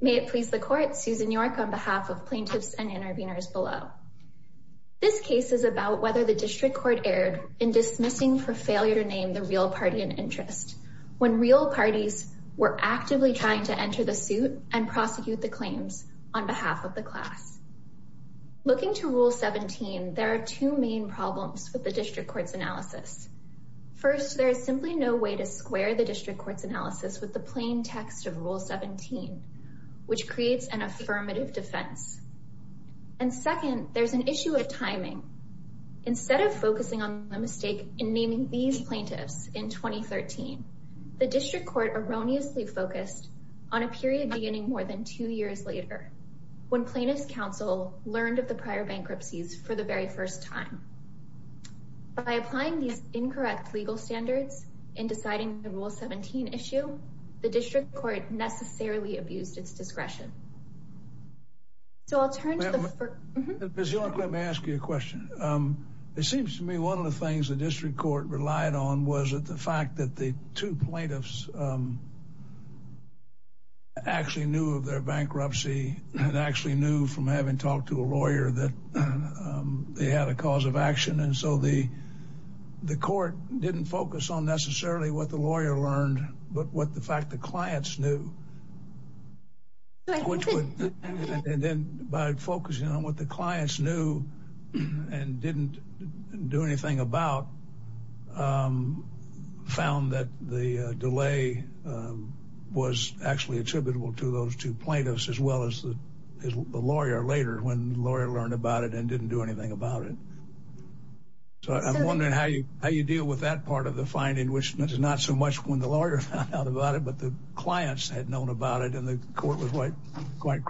May it please the court, Susan York on behalf of plaintiffs and interveners below. This case is about whether the district court erred in dismissing for failure to name the real party in interest when real parties were actively trying to enter the suit and prosecute the claims on behalf of the class. Looking to Rule 17, there are two main problems with the district court's analysis. First, there is simply no way to square the district court's analysis with the which creates an affirmative defense. And second, there's an issue of timing. Instead of focusing on the mistake in naming these plaintiffs in 2013, the district court erroneously focused on a period beginning more than two years later when plaintiff's counsel learned of the prior bankruptcies for the very first time. By applying these incorrect legal standards in deciding the Rule 17 issue, the district court necessarily abused its discretion. So I'll turn to the first. Let me ask you a question. It seems to me one of the things the district court relied on was that the fact that the two plaintiffs actually knew of their bankruptcy and actually knew from having talked to a lawyer that they had a cause of action. And so the court didn't focus on necessarily what the lawyer learned but what the fact the clients knew. And then by focusing on what the clients knew and didn't do anything about, found that the delay was actually attributable to those two plaintiffs who learned about it and didn't do anything about it. So I'm wondering how you how you deal with that part of the finding, which is not so much when the lawyer found out about it, but the clients had known about it and the court was quite quick.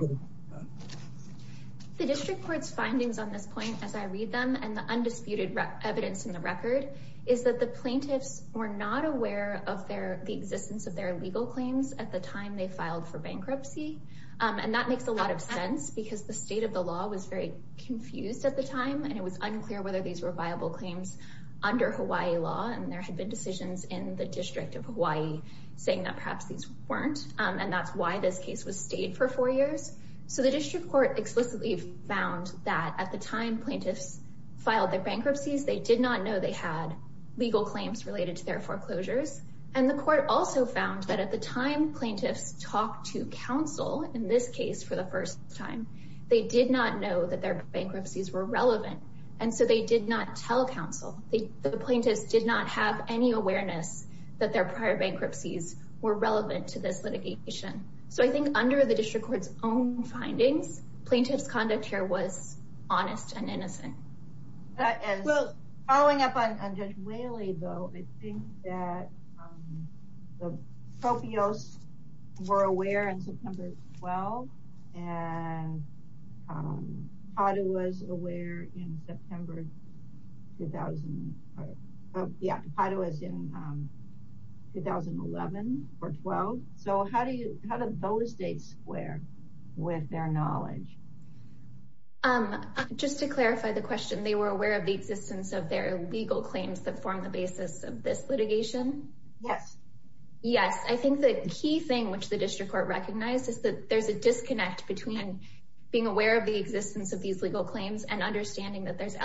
The district court's findings on this point, as I read them and the undisputed evidence in the record, is that the plaintiffs were not aware of their the existence of their legal claims at the time they filed for bankruptcy. And that makes a lot of sense because the state of the law was very confused at the time and it was unclear whether these were viable claims under Hawaii law. And there had been decisions in the district of Hawaii saying that perhaps these weren't. And that's why this case was stayed for four years. So the district court explicitly found that at the time plaintiffs filed their bankruptcies, they did not know they had legal claims related to their foreclosures. And the court also found that at the time plaintiffs talked to counsel in this case for the first time, they did not know that their bankruptcies were relevant. And so they did not tell counsel. The plaintiffs did not have any awareness that their prior bankruptcies were relevant to this litigation. So I think under the district court's own findings, plaintiff's conduct here was honest and innocent. Well, following up on Judge Whaley, though, I think that the Propios were aware in September 12, and Tapato was aware in September 2000. Yeah, Tapato was in 2011 or 12. So how do you, how does both states square with their knowledge? Just to clarify the question, they were aware of the existence of their legal claims that form the basis of this litigation? Yes. Yes. I think the key thing which the district court recognized is that there's a disconnect between being aware of the existence of these legal claims and understanding that there's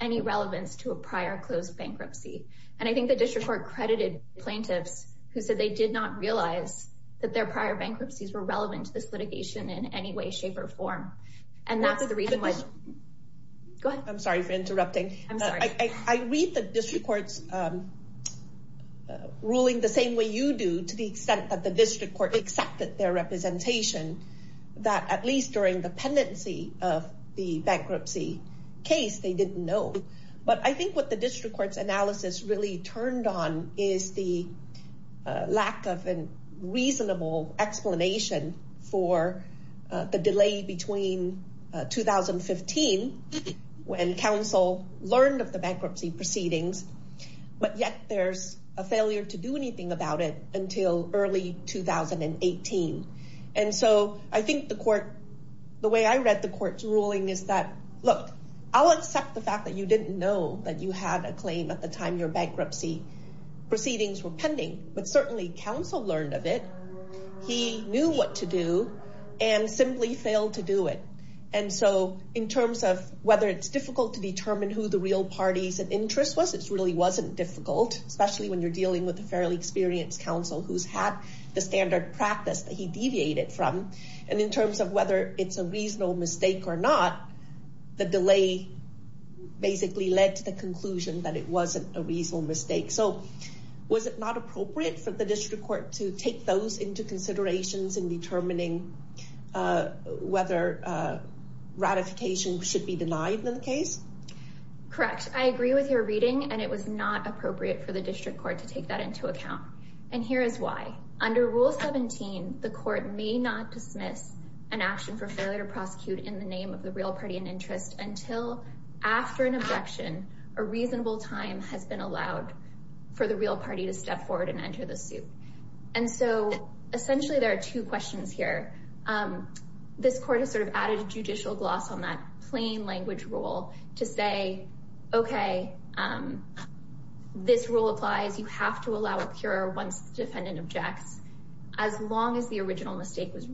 any relevance to a prior closed bankruptcy. And I think the district court credited plaintiffs who said they did not realize that their prior bankruptcies were relevant to this litigation in any way, shape, or form. And that's the reason why... Go ahead. I'm sorry for interrupting. I read the district court's ruling the same way you do, to the extent that the district court accepted their representation, that at least during the pendency of the bankruptcy case, they didn't know. But I think what the district court's analysis really turned on is the lack of a reasonable explanation for the delay between 2015, when counsel learned of the bankruptcy proceedings, but yet there's a failure to do anything about it until early 2018. And so I think the court, the way I read the court's ruling is that, look, I'll accept the fact that you didn't know that you had a claim at the time your bankruptcy proceedings were pending, but certainly counsel learned of it. He knew what to do and simply failed to do it. And so in terms of whether it's difficult to determine who the real parties of interest was, it really wasn't difficult, especially when you're dealing with a fairly experienced counsel who's had the standard practice that he deviated from. And in terms of whether it's a reasonable mistake or not, the delay basically led to the conclusion that it wasn't a reasonable mistake. So was it not appropriate for the district court to take those into considerations in determining whether ratification should be denied in the case? Correct. I agree with your reading, and it was not appropriate for the district court to take that into account. And here is why. Under Rule 17, the court may not dismiss an action for failure to prosecute in the name of the real party in interest until after an objection, a reasonable time has been allowed for the real party to step forward and enter the suit. And so essentially there are two questions here. This court has sort of added a judicial gloss on that plain language rule to say, okay, this rule applies, you have to allow a cure once the defendant objects, as long as the original mistake was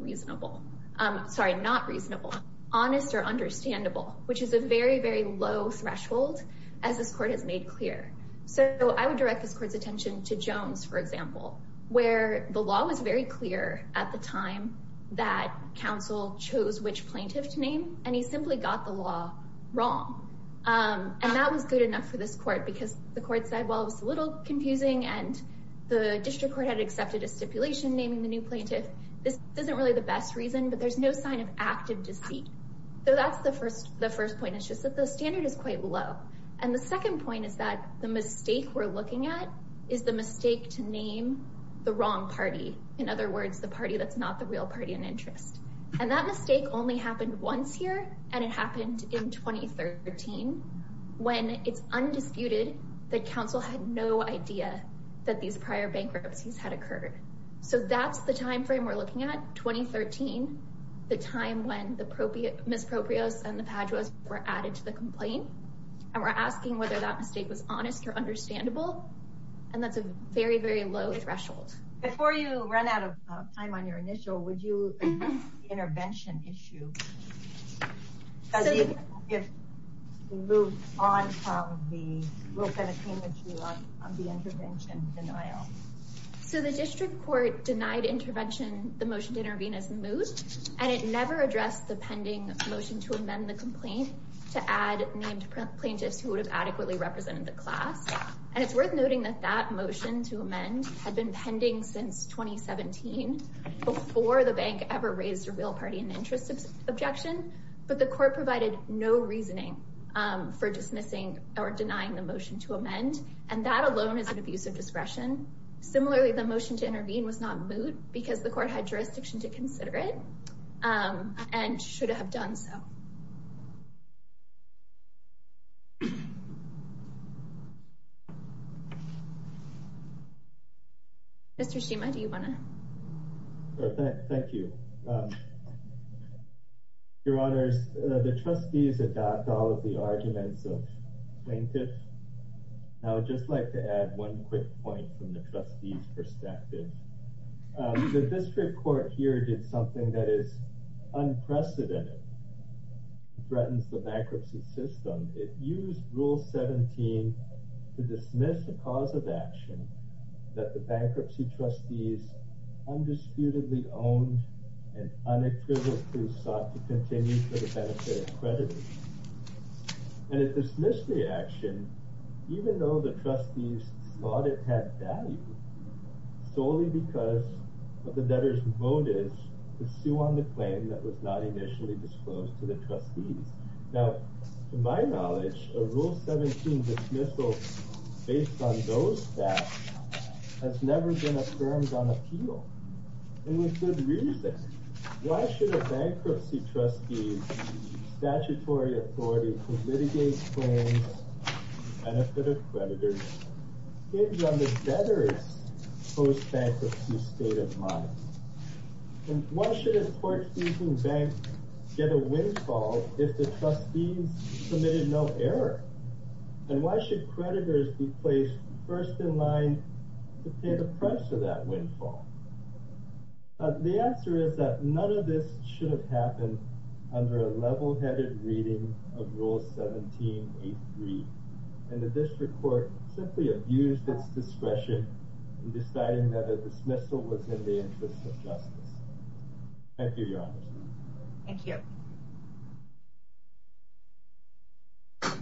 which is a very, very low threshold, as this court has made clear. So I would direct this court's attention to Jones, for example, where the law was very clear at the time that counsel chose which plaintiff to name, and he simply got the law wrong. And that was good enough for this court because the court said, well, it was a little confusing, and the district court had accepted a stipulation naming the new plaintiff. This isn't really the best reason, but there's no sign of active deceit. So that's the first point, it's just that the standard is quite low. And the second point is that the mistake we're looking at is the mistake to name the wrong party, in other words, the party that's not the real party in interest. And that mistake only happened once here, and it happened in 2013, when it's undisputed that counsel had no idea that these the time when the misproprios and the paduas were added to the complaint, and we're asking whether that mistake was honest or understandable, and that's a very, very low threshold. Before you run out of time on your initial, would you address the intervention issue? Because even if we move on from the rule 17, which we love, of the intervention denial. So the district court denied intervention, the motion to intervene as moved, and it never addressed the pending motion to amend the complaint to add named plaintiffs who would have adequately represented the class. And it's worth noting that that motion to amend had been pending since 2017, before the bank ever raised a real party in interest objection, but the court provided no reasoning for dismissing or denying the motion to amend, and that alone is an abuse of discretion. Similarly, the motion to intervene was not moved because the court had jurisdiction to consider it, and should have done so. Mr. Shima, do you want to? Thank you. Your honors, the trustees adopt all of the arguments of plaintiffs. I would just like to quick point from the trustees' perspective. The district court here did something that is unprecedented. It threatens the bankruptcy system. It used rule 17 to dismiss a cause of action that the bankruptcy trustees undisputedly owned and unequivocally sought to continue for the value solely because of the debtor's motives to sue on the claim that was not initially disclosed to the trustees. Now, to my knowledge, a rule 17 dismissal based on those facts has never been affirmed on appeal, and with good reason. Why should a bankruptcy trustee's statutory authority to litigate claims for the benefit of creditors hinge on the debtor's post-bankruptcy state of mind? And why should a court-seeking bank get a windfall if the trustees submitted no error? And why should creditors be placed first in line to pay the price of that windfall? The answer is that none of this should have happened under a level-headed reading of rule 17.83, and the district court simply abused its discretion in deciding that a dismissal was in the interest of justice. Thank you, your honors. Thank you. All right.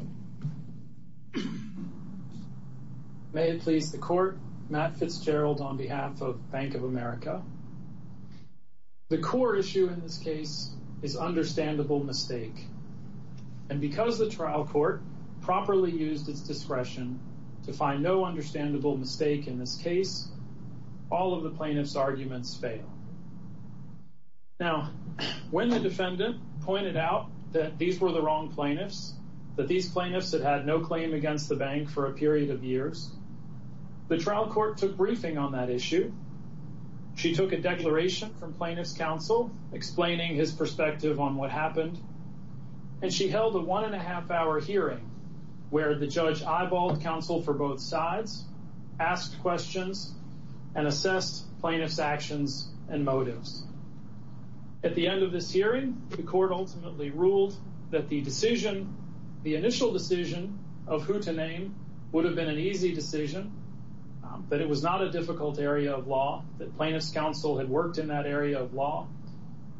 May it please the court, Matt Fitzgerald on behalf of Bank of America. The core issue in this case is understandable mistake, and because the trial court properly used its discretion to find no understandable mistake in this case, all of the plaintiff's actions were justified. Now, when the defendant pointed out that these were the wrong plaintiffs, that these plaintiffs had had no claim against the bank for a period of years, the trial court took briefing on that issue. She took a declaration from plaintiff's counsel explaining his perspective on what happened, and she held a one-and-a-half-hour hearing where the judge eyeballed counsel for both sides, asked questions, and assessed plaintiff's actions and motives. At the end of this hearing, the court ultimately ruled that the initial decision of who to name would have been an easy decision, that it was not a difficult area of law, that plaintiff's counsel had worked in that area of law,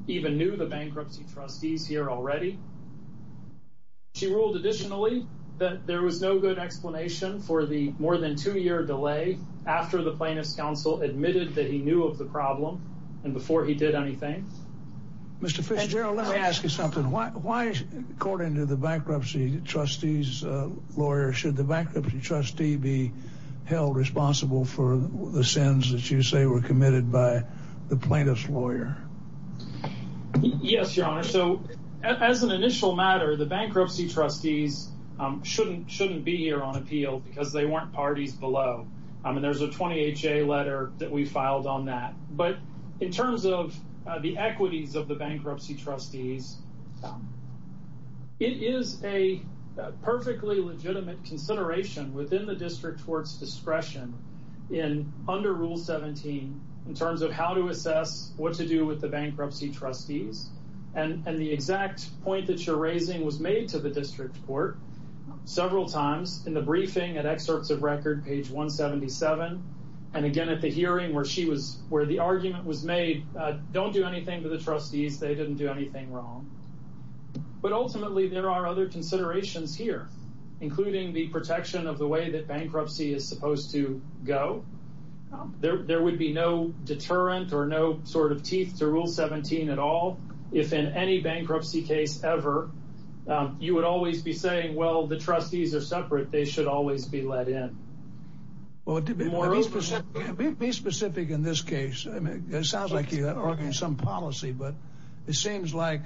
even knew the bankruptcy trustees here already. She ruled additionally that there was no good explanation for the more than two-year delay after the plaintiff's counsel admitted that he knew of the problem and before he did anything. Mr. Fisher, let me ask you something. Why, according to the bankruptcy trustee's lawyer, should the bankruptcy trustee be held responsible for the sins that you say were committed by the plaintiff's lawyer? Yes, your honor. So, as an initial matter, the bankruptcy trustees shouldn't be here on appeal because they weren't parties below. I mean, there's a 20HA letter that we filed on that, but in terms of the equities of the bankruptcy trustees, it is a perfectly legitimate consideration within the district court's discretion under Rule 17 in terms of how to assess what to do with the bankruptcy trustees, and the exact point that you're several times in the briefing at excerpts of record, page 177, and again at the hearing where she was, where the argument was made, don't do anything to the trustees. They didn't do anything wrong. But ultimately, there are other considerations here, including the protection of the way that bankruptcy is supposed to go. There would be no deterrent or no sort of teeth to Rule 17 at all. If in any bankruptcy case ever, you would always be saying, well, the trustees are separate. They should always be let in. Be specific in this case. It sounds like you're arguing some policy, but it seems like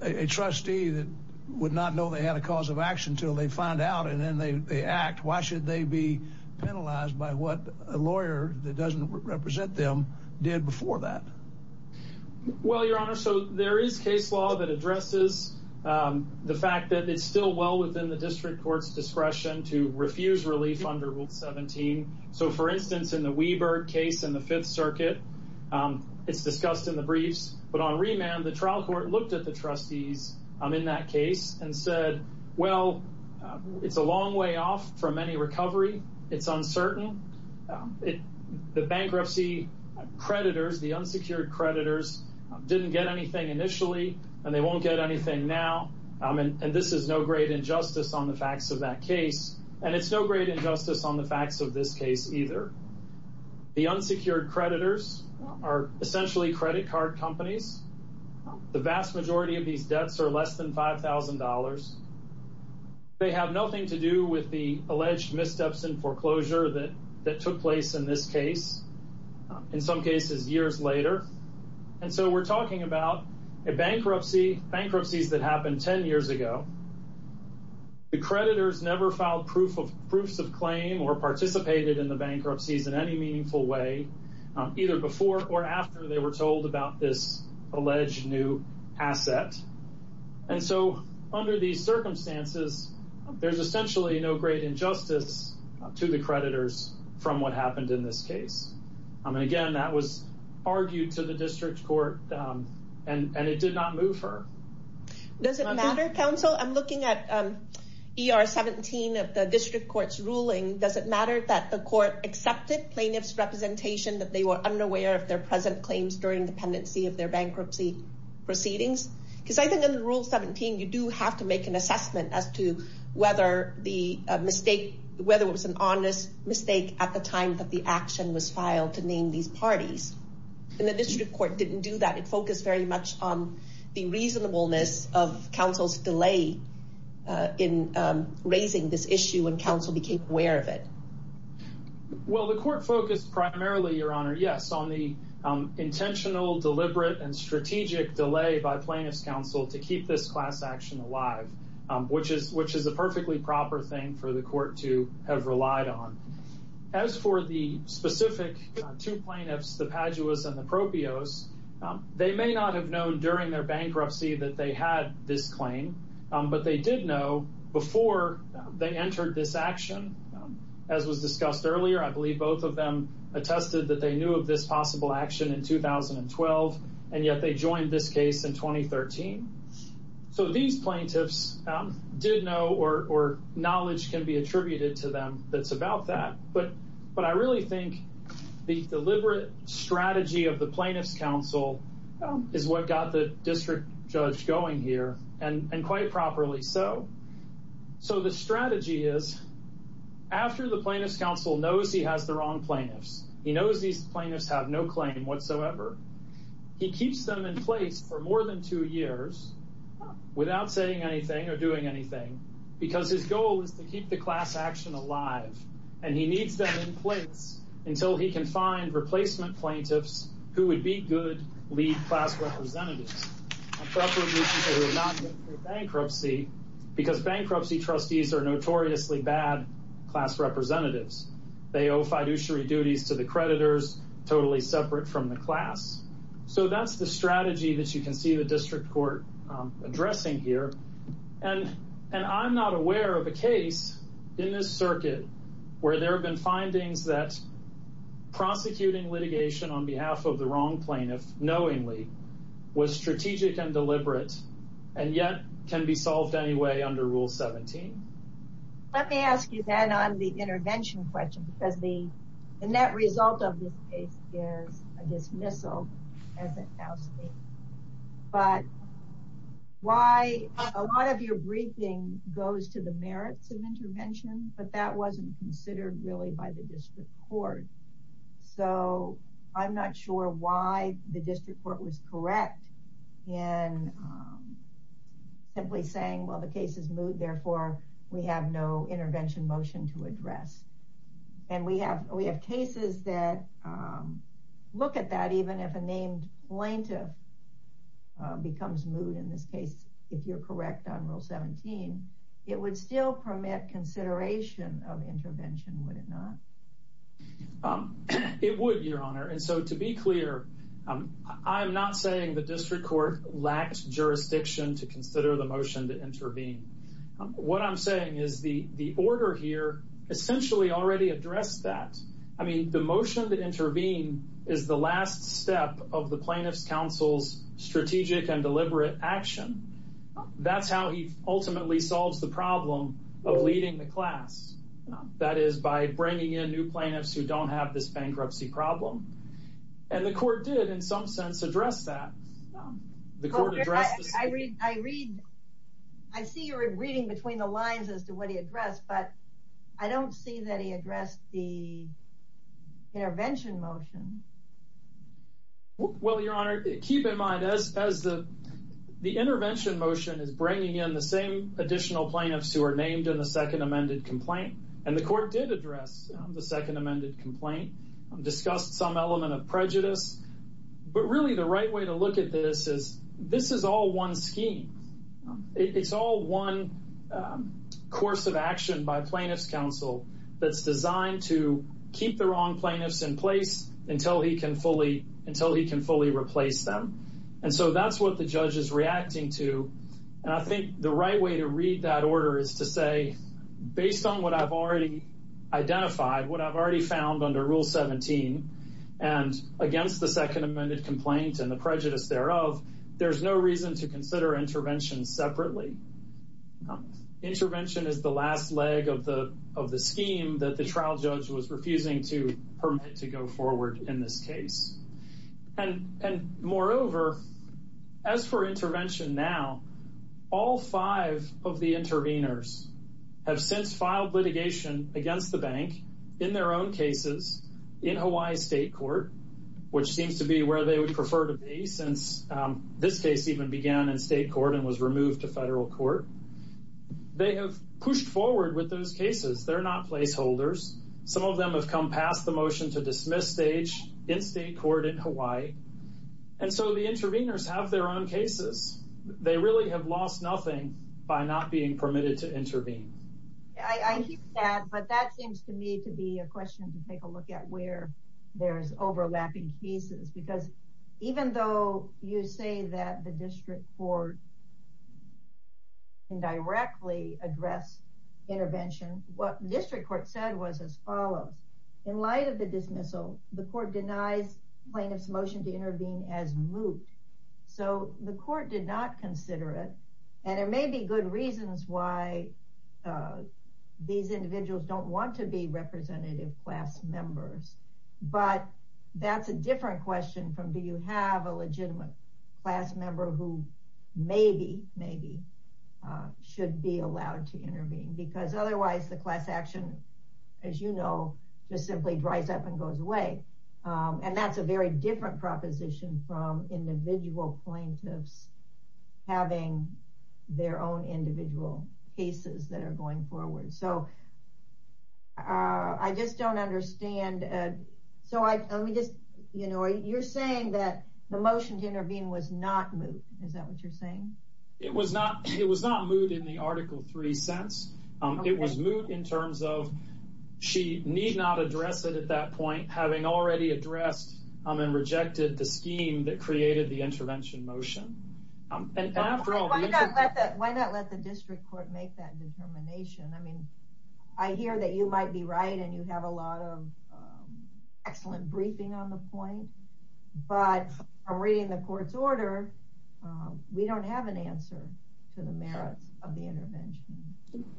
a trustee that would not know they had a cause of action until they find out, and then they act. Why should they be penalized by what a lawyer that doesn't represent them did before that? Well, Your Honor, so there is case law that addresses the fact that it's still well within the district court's discretion to refuse relief under Rule 17. So, for instance, in the Wieberg case in the Fifth Circuit, it's discussed in the briefs, but on remand, the trial court looked at the trustees in that case and said, well, it's a long way off from any recovery. It's uncertain. The bankruptcy creditors, the unsecured creditors, didn't get anything initially, and they won't get anything now, and this is no great injustice on the facts of that case, and it's no great injustice on the facts of this case either. The unsecured creditors are essentially credit card companies. The vast majority of these debts are less than $5,000. They have nothing to do with the alleged missteps in foreclosure that took place in this case, in some cases years later, and so we're talking about a bankruptcy, bankruptcies that happened 10 years ago. The creditors never filed proofs of claim or participated in the bankruptcies in any meaningful way, either before or after they were told about this and so under these circumstances, there's essentially no great injustice to the creditors from what happened in this case. Again, that was argued to the district court, and it did not move her. Does it matter, counsel? I'm looking at ER 17 of the district court's ruling. Does it matter that the court accepted plaintiff's representation that they were unaware of their present claims during dependency of their bankruptcy proceedings? Because I think in Rule 17, you do have to make an assessment as to whether it was an honest mistake at the time that the action was filed to name these parties, and the district court didn't do that. It focused very much on the reasonableness of counsel's delay in raising this issue when counsel became aware of it. Well, the court focused primarily, Your Honor, yes, on the intentional, deliberate, and strategic delay by plaintiff's counsel to keep this class action alive, which is a perfectly proper thing for the court to have relied on. As for the specific two plaintiffs, the Paduas and the Propios, they may not have known during their bankruptcy that they had this claim, but they did know before they entered this action. As was discussed earlier, I believe both of them attested that they knew of this possible action in 2012, and yet they joined this case in 2013. So these plaintiffs did know, or knowledge can be attributed to them, that's about that. But I really think the deliberate strategy of the plaintiff's counsel is what got the district judge going here, and quite properly so. So the strategy is, after the plaintiff's counsel knows he has the wrong plaintiffs, he knows these plaintiffs have no claim whatsoever, he keeps them in place for more than two years without saying anything or doing anything, because his goal is to keep the class action alive, and he needs them in place until he can find replacement plaintiffs who would be good lead class representatives, preferably people who have not been through bankruptcy, because bankruptcy trustees are notoriously bad class representatives. They owe fiduciary duties to the creditors, totally separate from the class. So that's the strategy that you can see the district court addressing here, and I'm not aware of a case in this circuit where there have been findings that prosecuting litigation on behalf of the wrong plaintiff knowingly was strategic and deliberate, and yet can be solved anyway under rule 17. Let me ask you then on the intervention question, because the net result of this case is a dismissal as a house case, but why a lot of your briefing goes to the merits of intervention, but that wasn't considered really by the district court. So I'm not sure why the district court was correct in simply saying, well, the case is moot, therefore we have no intervention motion to address, and we have cases that look at that even if a named plaintiff becomes moot in this case, if you're correct on rule 17, it would still permit consideration of intervention, would it not? It would, your honor, and so to be clear, I'm not saying the district court lacked jurisdiction to consider the motion to intervene. What I'm saying is the order here essentially already addressed that. I mean, the motion to intervene is the last step of the plaintiff's counsel's strategic and deliberate action. That's how he ultimately solves the problem of leading the class. That is by bringing in new plaintiffs who don't have this bankruptcy problem, and the court did in some sense address that. I see you're reading between the lines as to what he addressed, but I don't see that he addressed the intervention motion. Well, your honor, keep in mind as the intervention motion is bringing in the same additional plaintiffs who are named in the second amended complaint, and the court did address the second amended complaint, discussed some element of prejudice, but really the right way to look at this is this is all one scheme. It's all one course of action by plaintiff's counsel that's designed to keep the wrong plaintiffs in place until he can fully replace them, and so that's what the judge is reacting to, and I think the right way to read that order is to say based on what I've already identified, what I've already found under Rule 17, and against the second amended complaint and the prejudice thereof, there's no reason to consider intervention separately. Intervention is the last leg of the scheme that the trial judge was refusing to permit to go forward in this case, and moreover, as for intervention now, all five of the interveners have since filed litigation against the bank in their own cases in Hawaii State Court, which seems to be where they would prefer to be since this case even began in state court and was removed to federal court. They have pushed forward with those cases. They're not placeholders. Some of them have come past the motion to dismiss stage in state court in Hawaii, and so the interveners have their own cases. They really have lost nothing by not being permitted to intervene. I hear that, but that seems to me to be a question to take a look at where there's overlapping cases because even though you say that the district court can directly address intervention, what district court said was as follows. In light of the dismissal, the court denies plaintiff's motion to intervene as moot, so the court did not consider it, and there may be good reasons why these individuals don't want to be representative class members, but that's a different question from do you have a legitimate class member who maybe should be allowed to intervene because otherwise the class action, as you know, just simply dries up and goes away, and that's a very different proposition from individual plaintiffs having their own individual cases that are going forward, so I just don't understand. You're saying that the motion to intervene was not moot. Is that what you're saying? It was not. It was not moot in the article three sense. It was moot in terms of she need not address it at that point having already addressed and rejected the scheme that created the intervention motion. Why not let the district court make that determination? I mean, I hear that you might be right, and you have a lot of excellent briefing on the point, but from reading the court's order, we don't have an answer to the merits of the intervention.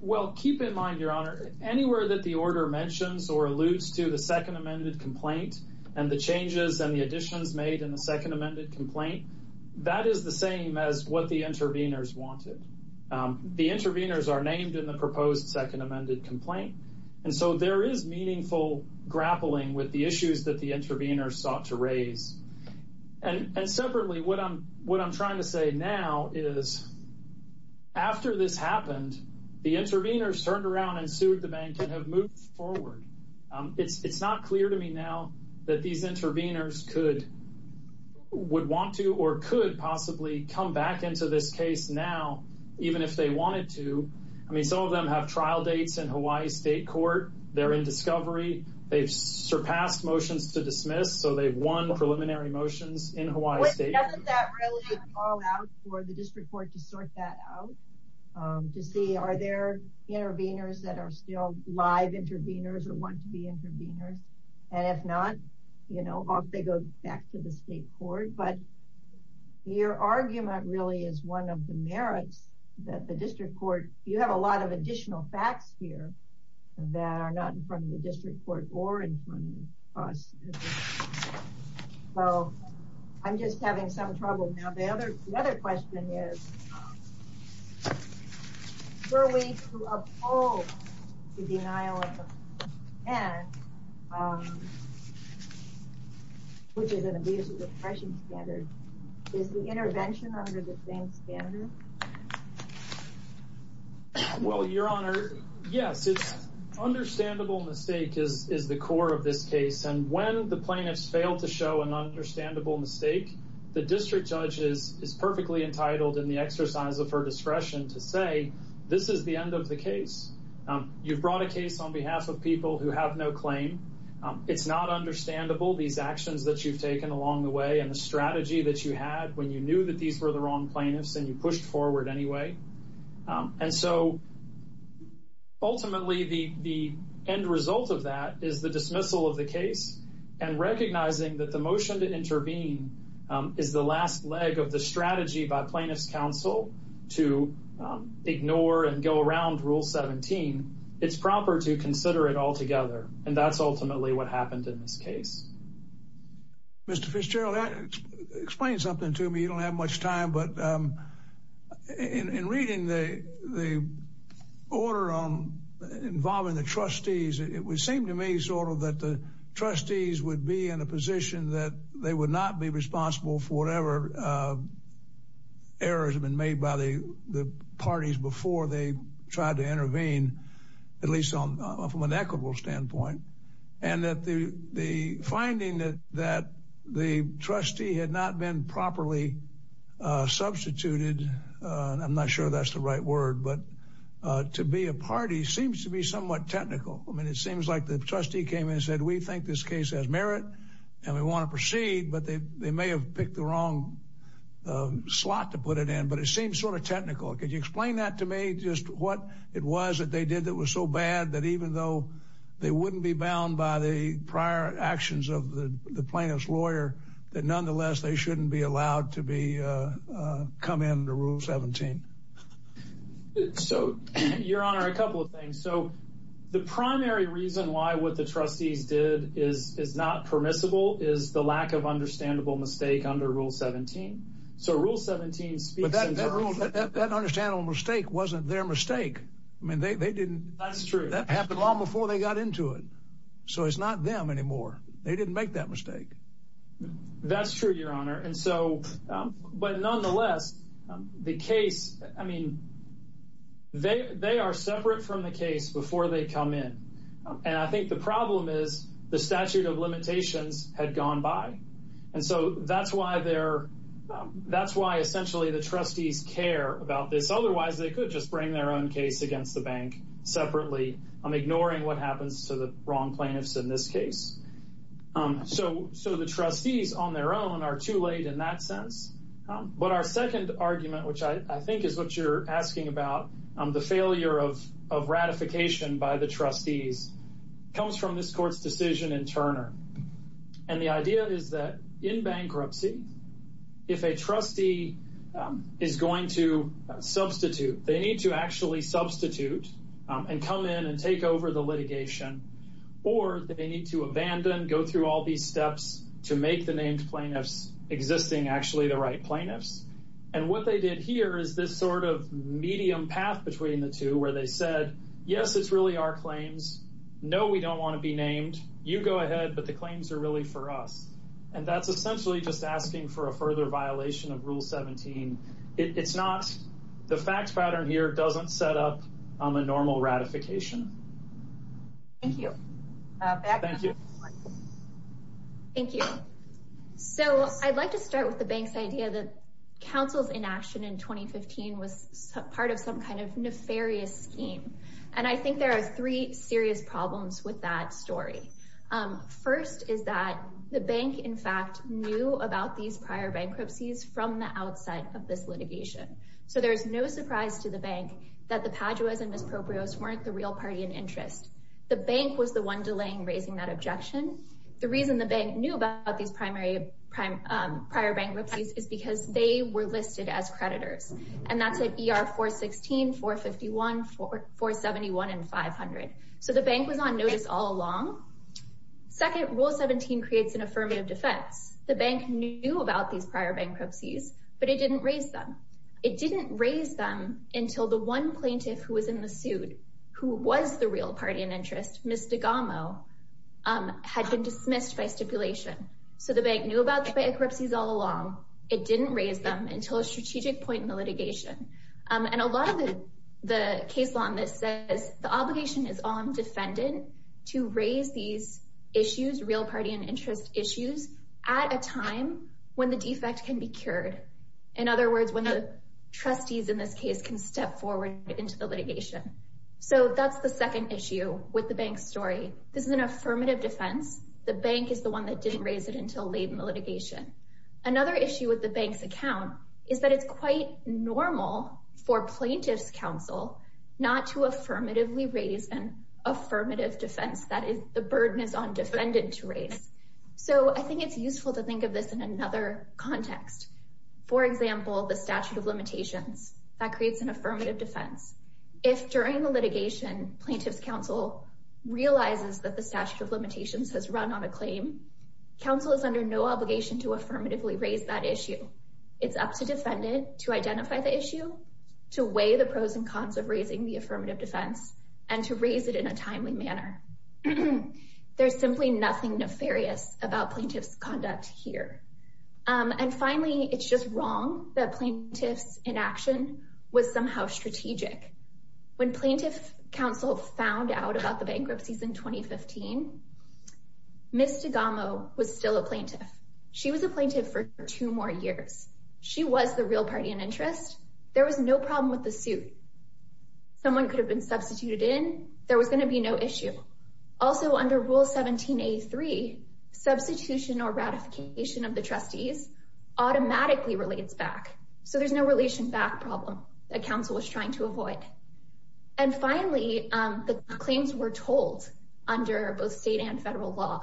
Well, keep in mind, your honor, anywhere that the order mentions or alludes to the second amended complaint and the changes and the additions made in the second wanted. The interveners are named in the proposed second amended complaint, and so there is meaningful grappling with the issues that the interveners sought to raise, and separately, what I'm trying to say now is after this happened, the interveners turned around and sued the bank and have moved forward. It's not clear to me now that these interveners could, would want to or could possibly come back into this case now, even if they wanted to. I mean, some of them have trial dates in Hawaii state court. They're in discovery. They've surpassed motions to dismiss, so they've won preliminary motions in Hawaii. Wait, doesn't that really call out for the district court to sort that out, to see are there interveners that are still live interveners or want to be interveners, and if not, you know, they go back to the state court, but your argument really is one of the merits that the district court, you have a lot of additional facts here that are not in front of the district court or in front of us. So I'm just having some trouble now. The other question is, were we to uphold the denial of the pen, which is an abusive repression standard, is the intervention under the same standard? Well, your honor, yes, it's understandable mistake is the core of this case, and when plaintiffs fail to show an understandable mistake, the district judge is perfectly entitled in the exercise of her discretion to say, this is the end of the case. You've brought a case on behalf of people who have no claim. It's not understandable, these actions that you've taken along the way and the strategy that you had when you knew that these were the wrong plaintiffs and you pushed forward anyway. And so ultimately, the end result of that is the dismissal of the case and recognizing that the motion to intervene is the last leg of the strategy by plaintiffs counsel to ignore and go around rule 17. It's proper to consider it altogether, and that's ultimately what happened in this case. Mr. Fitzgerald, explain something to me. You don't have much time, but in reading the order on involving the trustees, it would seem to me that the trustees would be in a position that they would not be responsible for whatever errors have been made by the parties before they tried to intervene, at least from an equitable standpoint. And that the finding that the trustee had not been properly substituted, I'm not sure that's the right word, but to be a party seems to be somewhat technical. I mean, seems like the trustee came in and said, we think this case has merit and we want to proceed, but they may have picked the wrong slot to put it in, but it seems sort of technical. Could you explain that to me, just what it was that they did that was so bad that even though they wouldn't be bound by the prior actions of the plaintiff's lawyer, that nonetheless, they shouldn't be allowed to come into rule 17. So your honor, a couple of things. So the primary reason why what the trustees did is not permissible is the lack of understandable mistake under rule 17. So rule 17 speaks to that. That understandable mistake wasn't their mistake. I mean, they didn't. That's true. That happened long before they got into it. So it's not them anymore. They didn't make that mistake. That's true, your honor. And so, but nonetheless, the case, I mean, they are separate from the case before they come in. And I think the problem is the statute of limitations had gone by. And so that's why essentially the trustees care about this. Otherwise they could just bring their own case against the bank separately, ignoring what happens to the wrong plaintiffs in this case. So the trustees on their own are too late in that sense. But our second argument, which I think is what you're asking about, the failure of ratification by the trustees, comes from this court's decision in Turner. And the idea is that in bankruptcy, if a trustee is going to substitute, they need to actually substitute and come in and take over the go through all these steps to make the named plaintiffs existing, actually the right plaintiffs. And what they did here is this sort of medium path between the two where they said, yes, it's really our claims. No, we don't want to be named. You go ahead. But the claims are really for us. And that's essentially just asking for a further violation of Rule 17. The fact pattern here doesn't set up a normal ratification. Thank you. Thank you. Thank you. So I'd like to start with the bank's idea that council's inaction in 2015 was part of some kind of nefarious scheme. And I think there are three serious problems with that story. First is that the bank, in fact, knew about these prior bankruptcies from the outset of this litigation. So there's no surprise to the bank that the Paduas and misproprios weren't the real party in interest. The bank was the one delaying raising that objection. The reason the bank knew about these prior bankruptcies is because they were listed as creditors. And that's at ER 416, 451, 471, and 500. So the bank was on notice all along. Second, Rule 17 creates an affirmative defense. The bank knew about these prior bankruptcies, but it didn't raise them. It didn't raise them until the one plaintiff who was in the suit, who was the real party in interest, Ms. Digamo, had been dismissed by stipulation. So the bank knew about the bankruptcies all along. It didn't raise them until a strategic point in the litigation. And a lot of the case law on this obligation is on defendant to raise these issues, real party in interest issues, at a time when the defect can be cured. In other words, when the trustees in this case can step forward into the litigation. So that's the second issue with the bank's story. This is an affirmative defense. The bank is the one that didn't raise it until late in the litigation. Another issue with the account is that it's quite normal for plaintiff's counsel not to affirmatively raise an affirmative defense that is the burden is on defendant to raise. So I think it's useful to think of this in another context. For example, the statute of limitations that creates an affirmative defense. If during the litigation, plaintiff's counsel realizes that the statute of limitations has run on a claim, counsel is under no obligation to affirmatively raise that issue. It's up to defendant to identify the issue, to weigh the pros and cons of raising the affirmative defense, and to raise it in a timely manner. There's simply nothing nefarious about plaintiff's conduct here. And finally, it's just wrong that plaintiff's inaction was somehow strategic. When plaintiff counsel found out about the bankruptcies in 2015, Ms. Tagamo was still a plaintiff. She was a plaintiff for two more years. She was the real party in interest. There was no problem with the suit. Someone could have been substituted in. There was going to be no issue. Also, under Rule 17a3, substitution or ratification of the trustees automatically relates back. So there's no problem that counsel was trying to avoid. And finally, the claims were told under both state and federal law.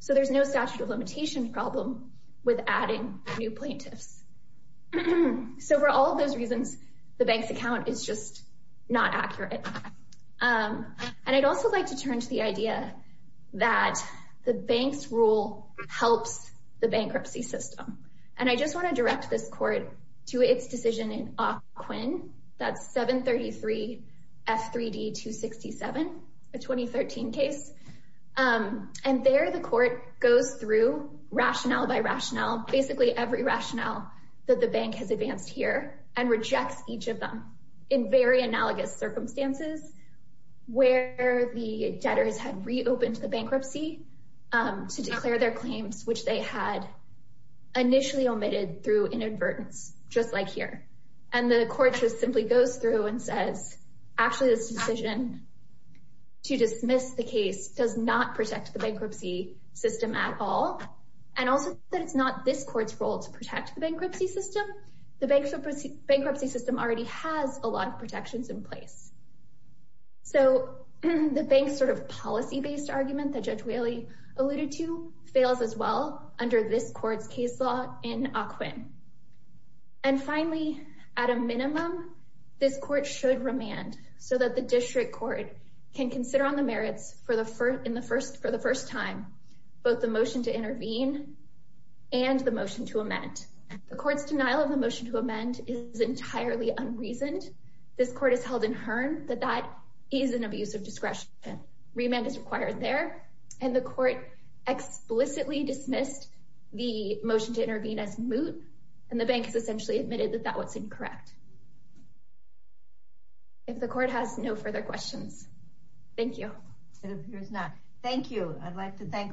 So there's no statute of limitation problem with adding new plaintiffs. So for all of those reasons, the bank's account is just not accurate. And I'd also like to turn to the idea that the bank's rule helps the bankruptcy system. And I just want to direct this court to its decision in Ocquinn, that's 733 F3D 267, a 2013 case. And there the court goes through rationale by rationale, basically every rationale that the bank has advanced here and rejects each of them in very analogous circumstances where the debtors had reopened the bankruptcy to declare their claims, which they had initially omitted through inadvertence, just like here. And the court just simply goes through and says, actually, this decision to dismiss the case does not protect the bankruptcy system at all. And also that it's not this court's role to protect the bankruptcy system. The bankruptcy system already has a lot of protections in place. So the bank's sort of policy-based argument that Judge Whaley alluded to fails as well under this court's case law in Ocquinn. And finally, at a minimum, this court should remand so that the district court can consider on the merits for the first time, both the motion to intervene and the motion to amend. The court's denial of the motion to amend is entirely unreasoned. This court has held inherent that that is an abuse of discretion. Remand is required there. And the court explicitly dismissed the motion to intervene as moot. And the bank has essentially admitted that that was incorrect. If the court has no further questions. Thank you. It appears not. Thank you. I'd like to thank all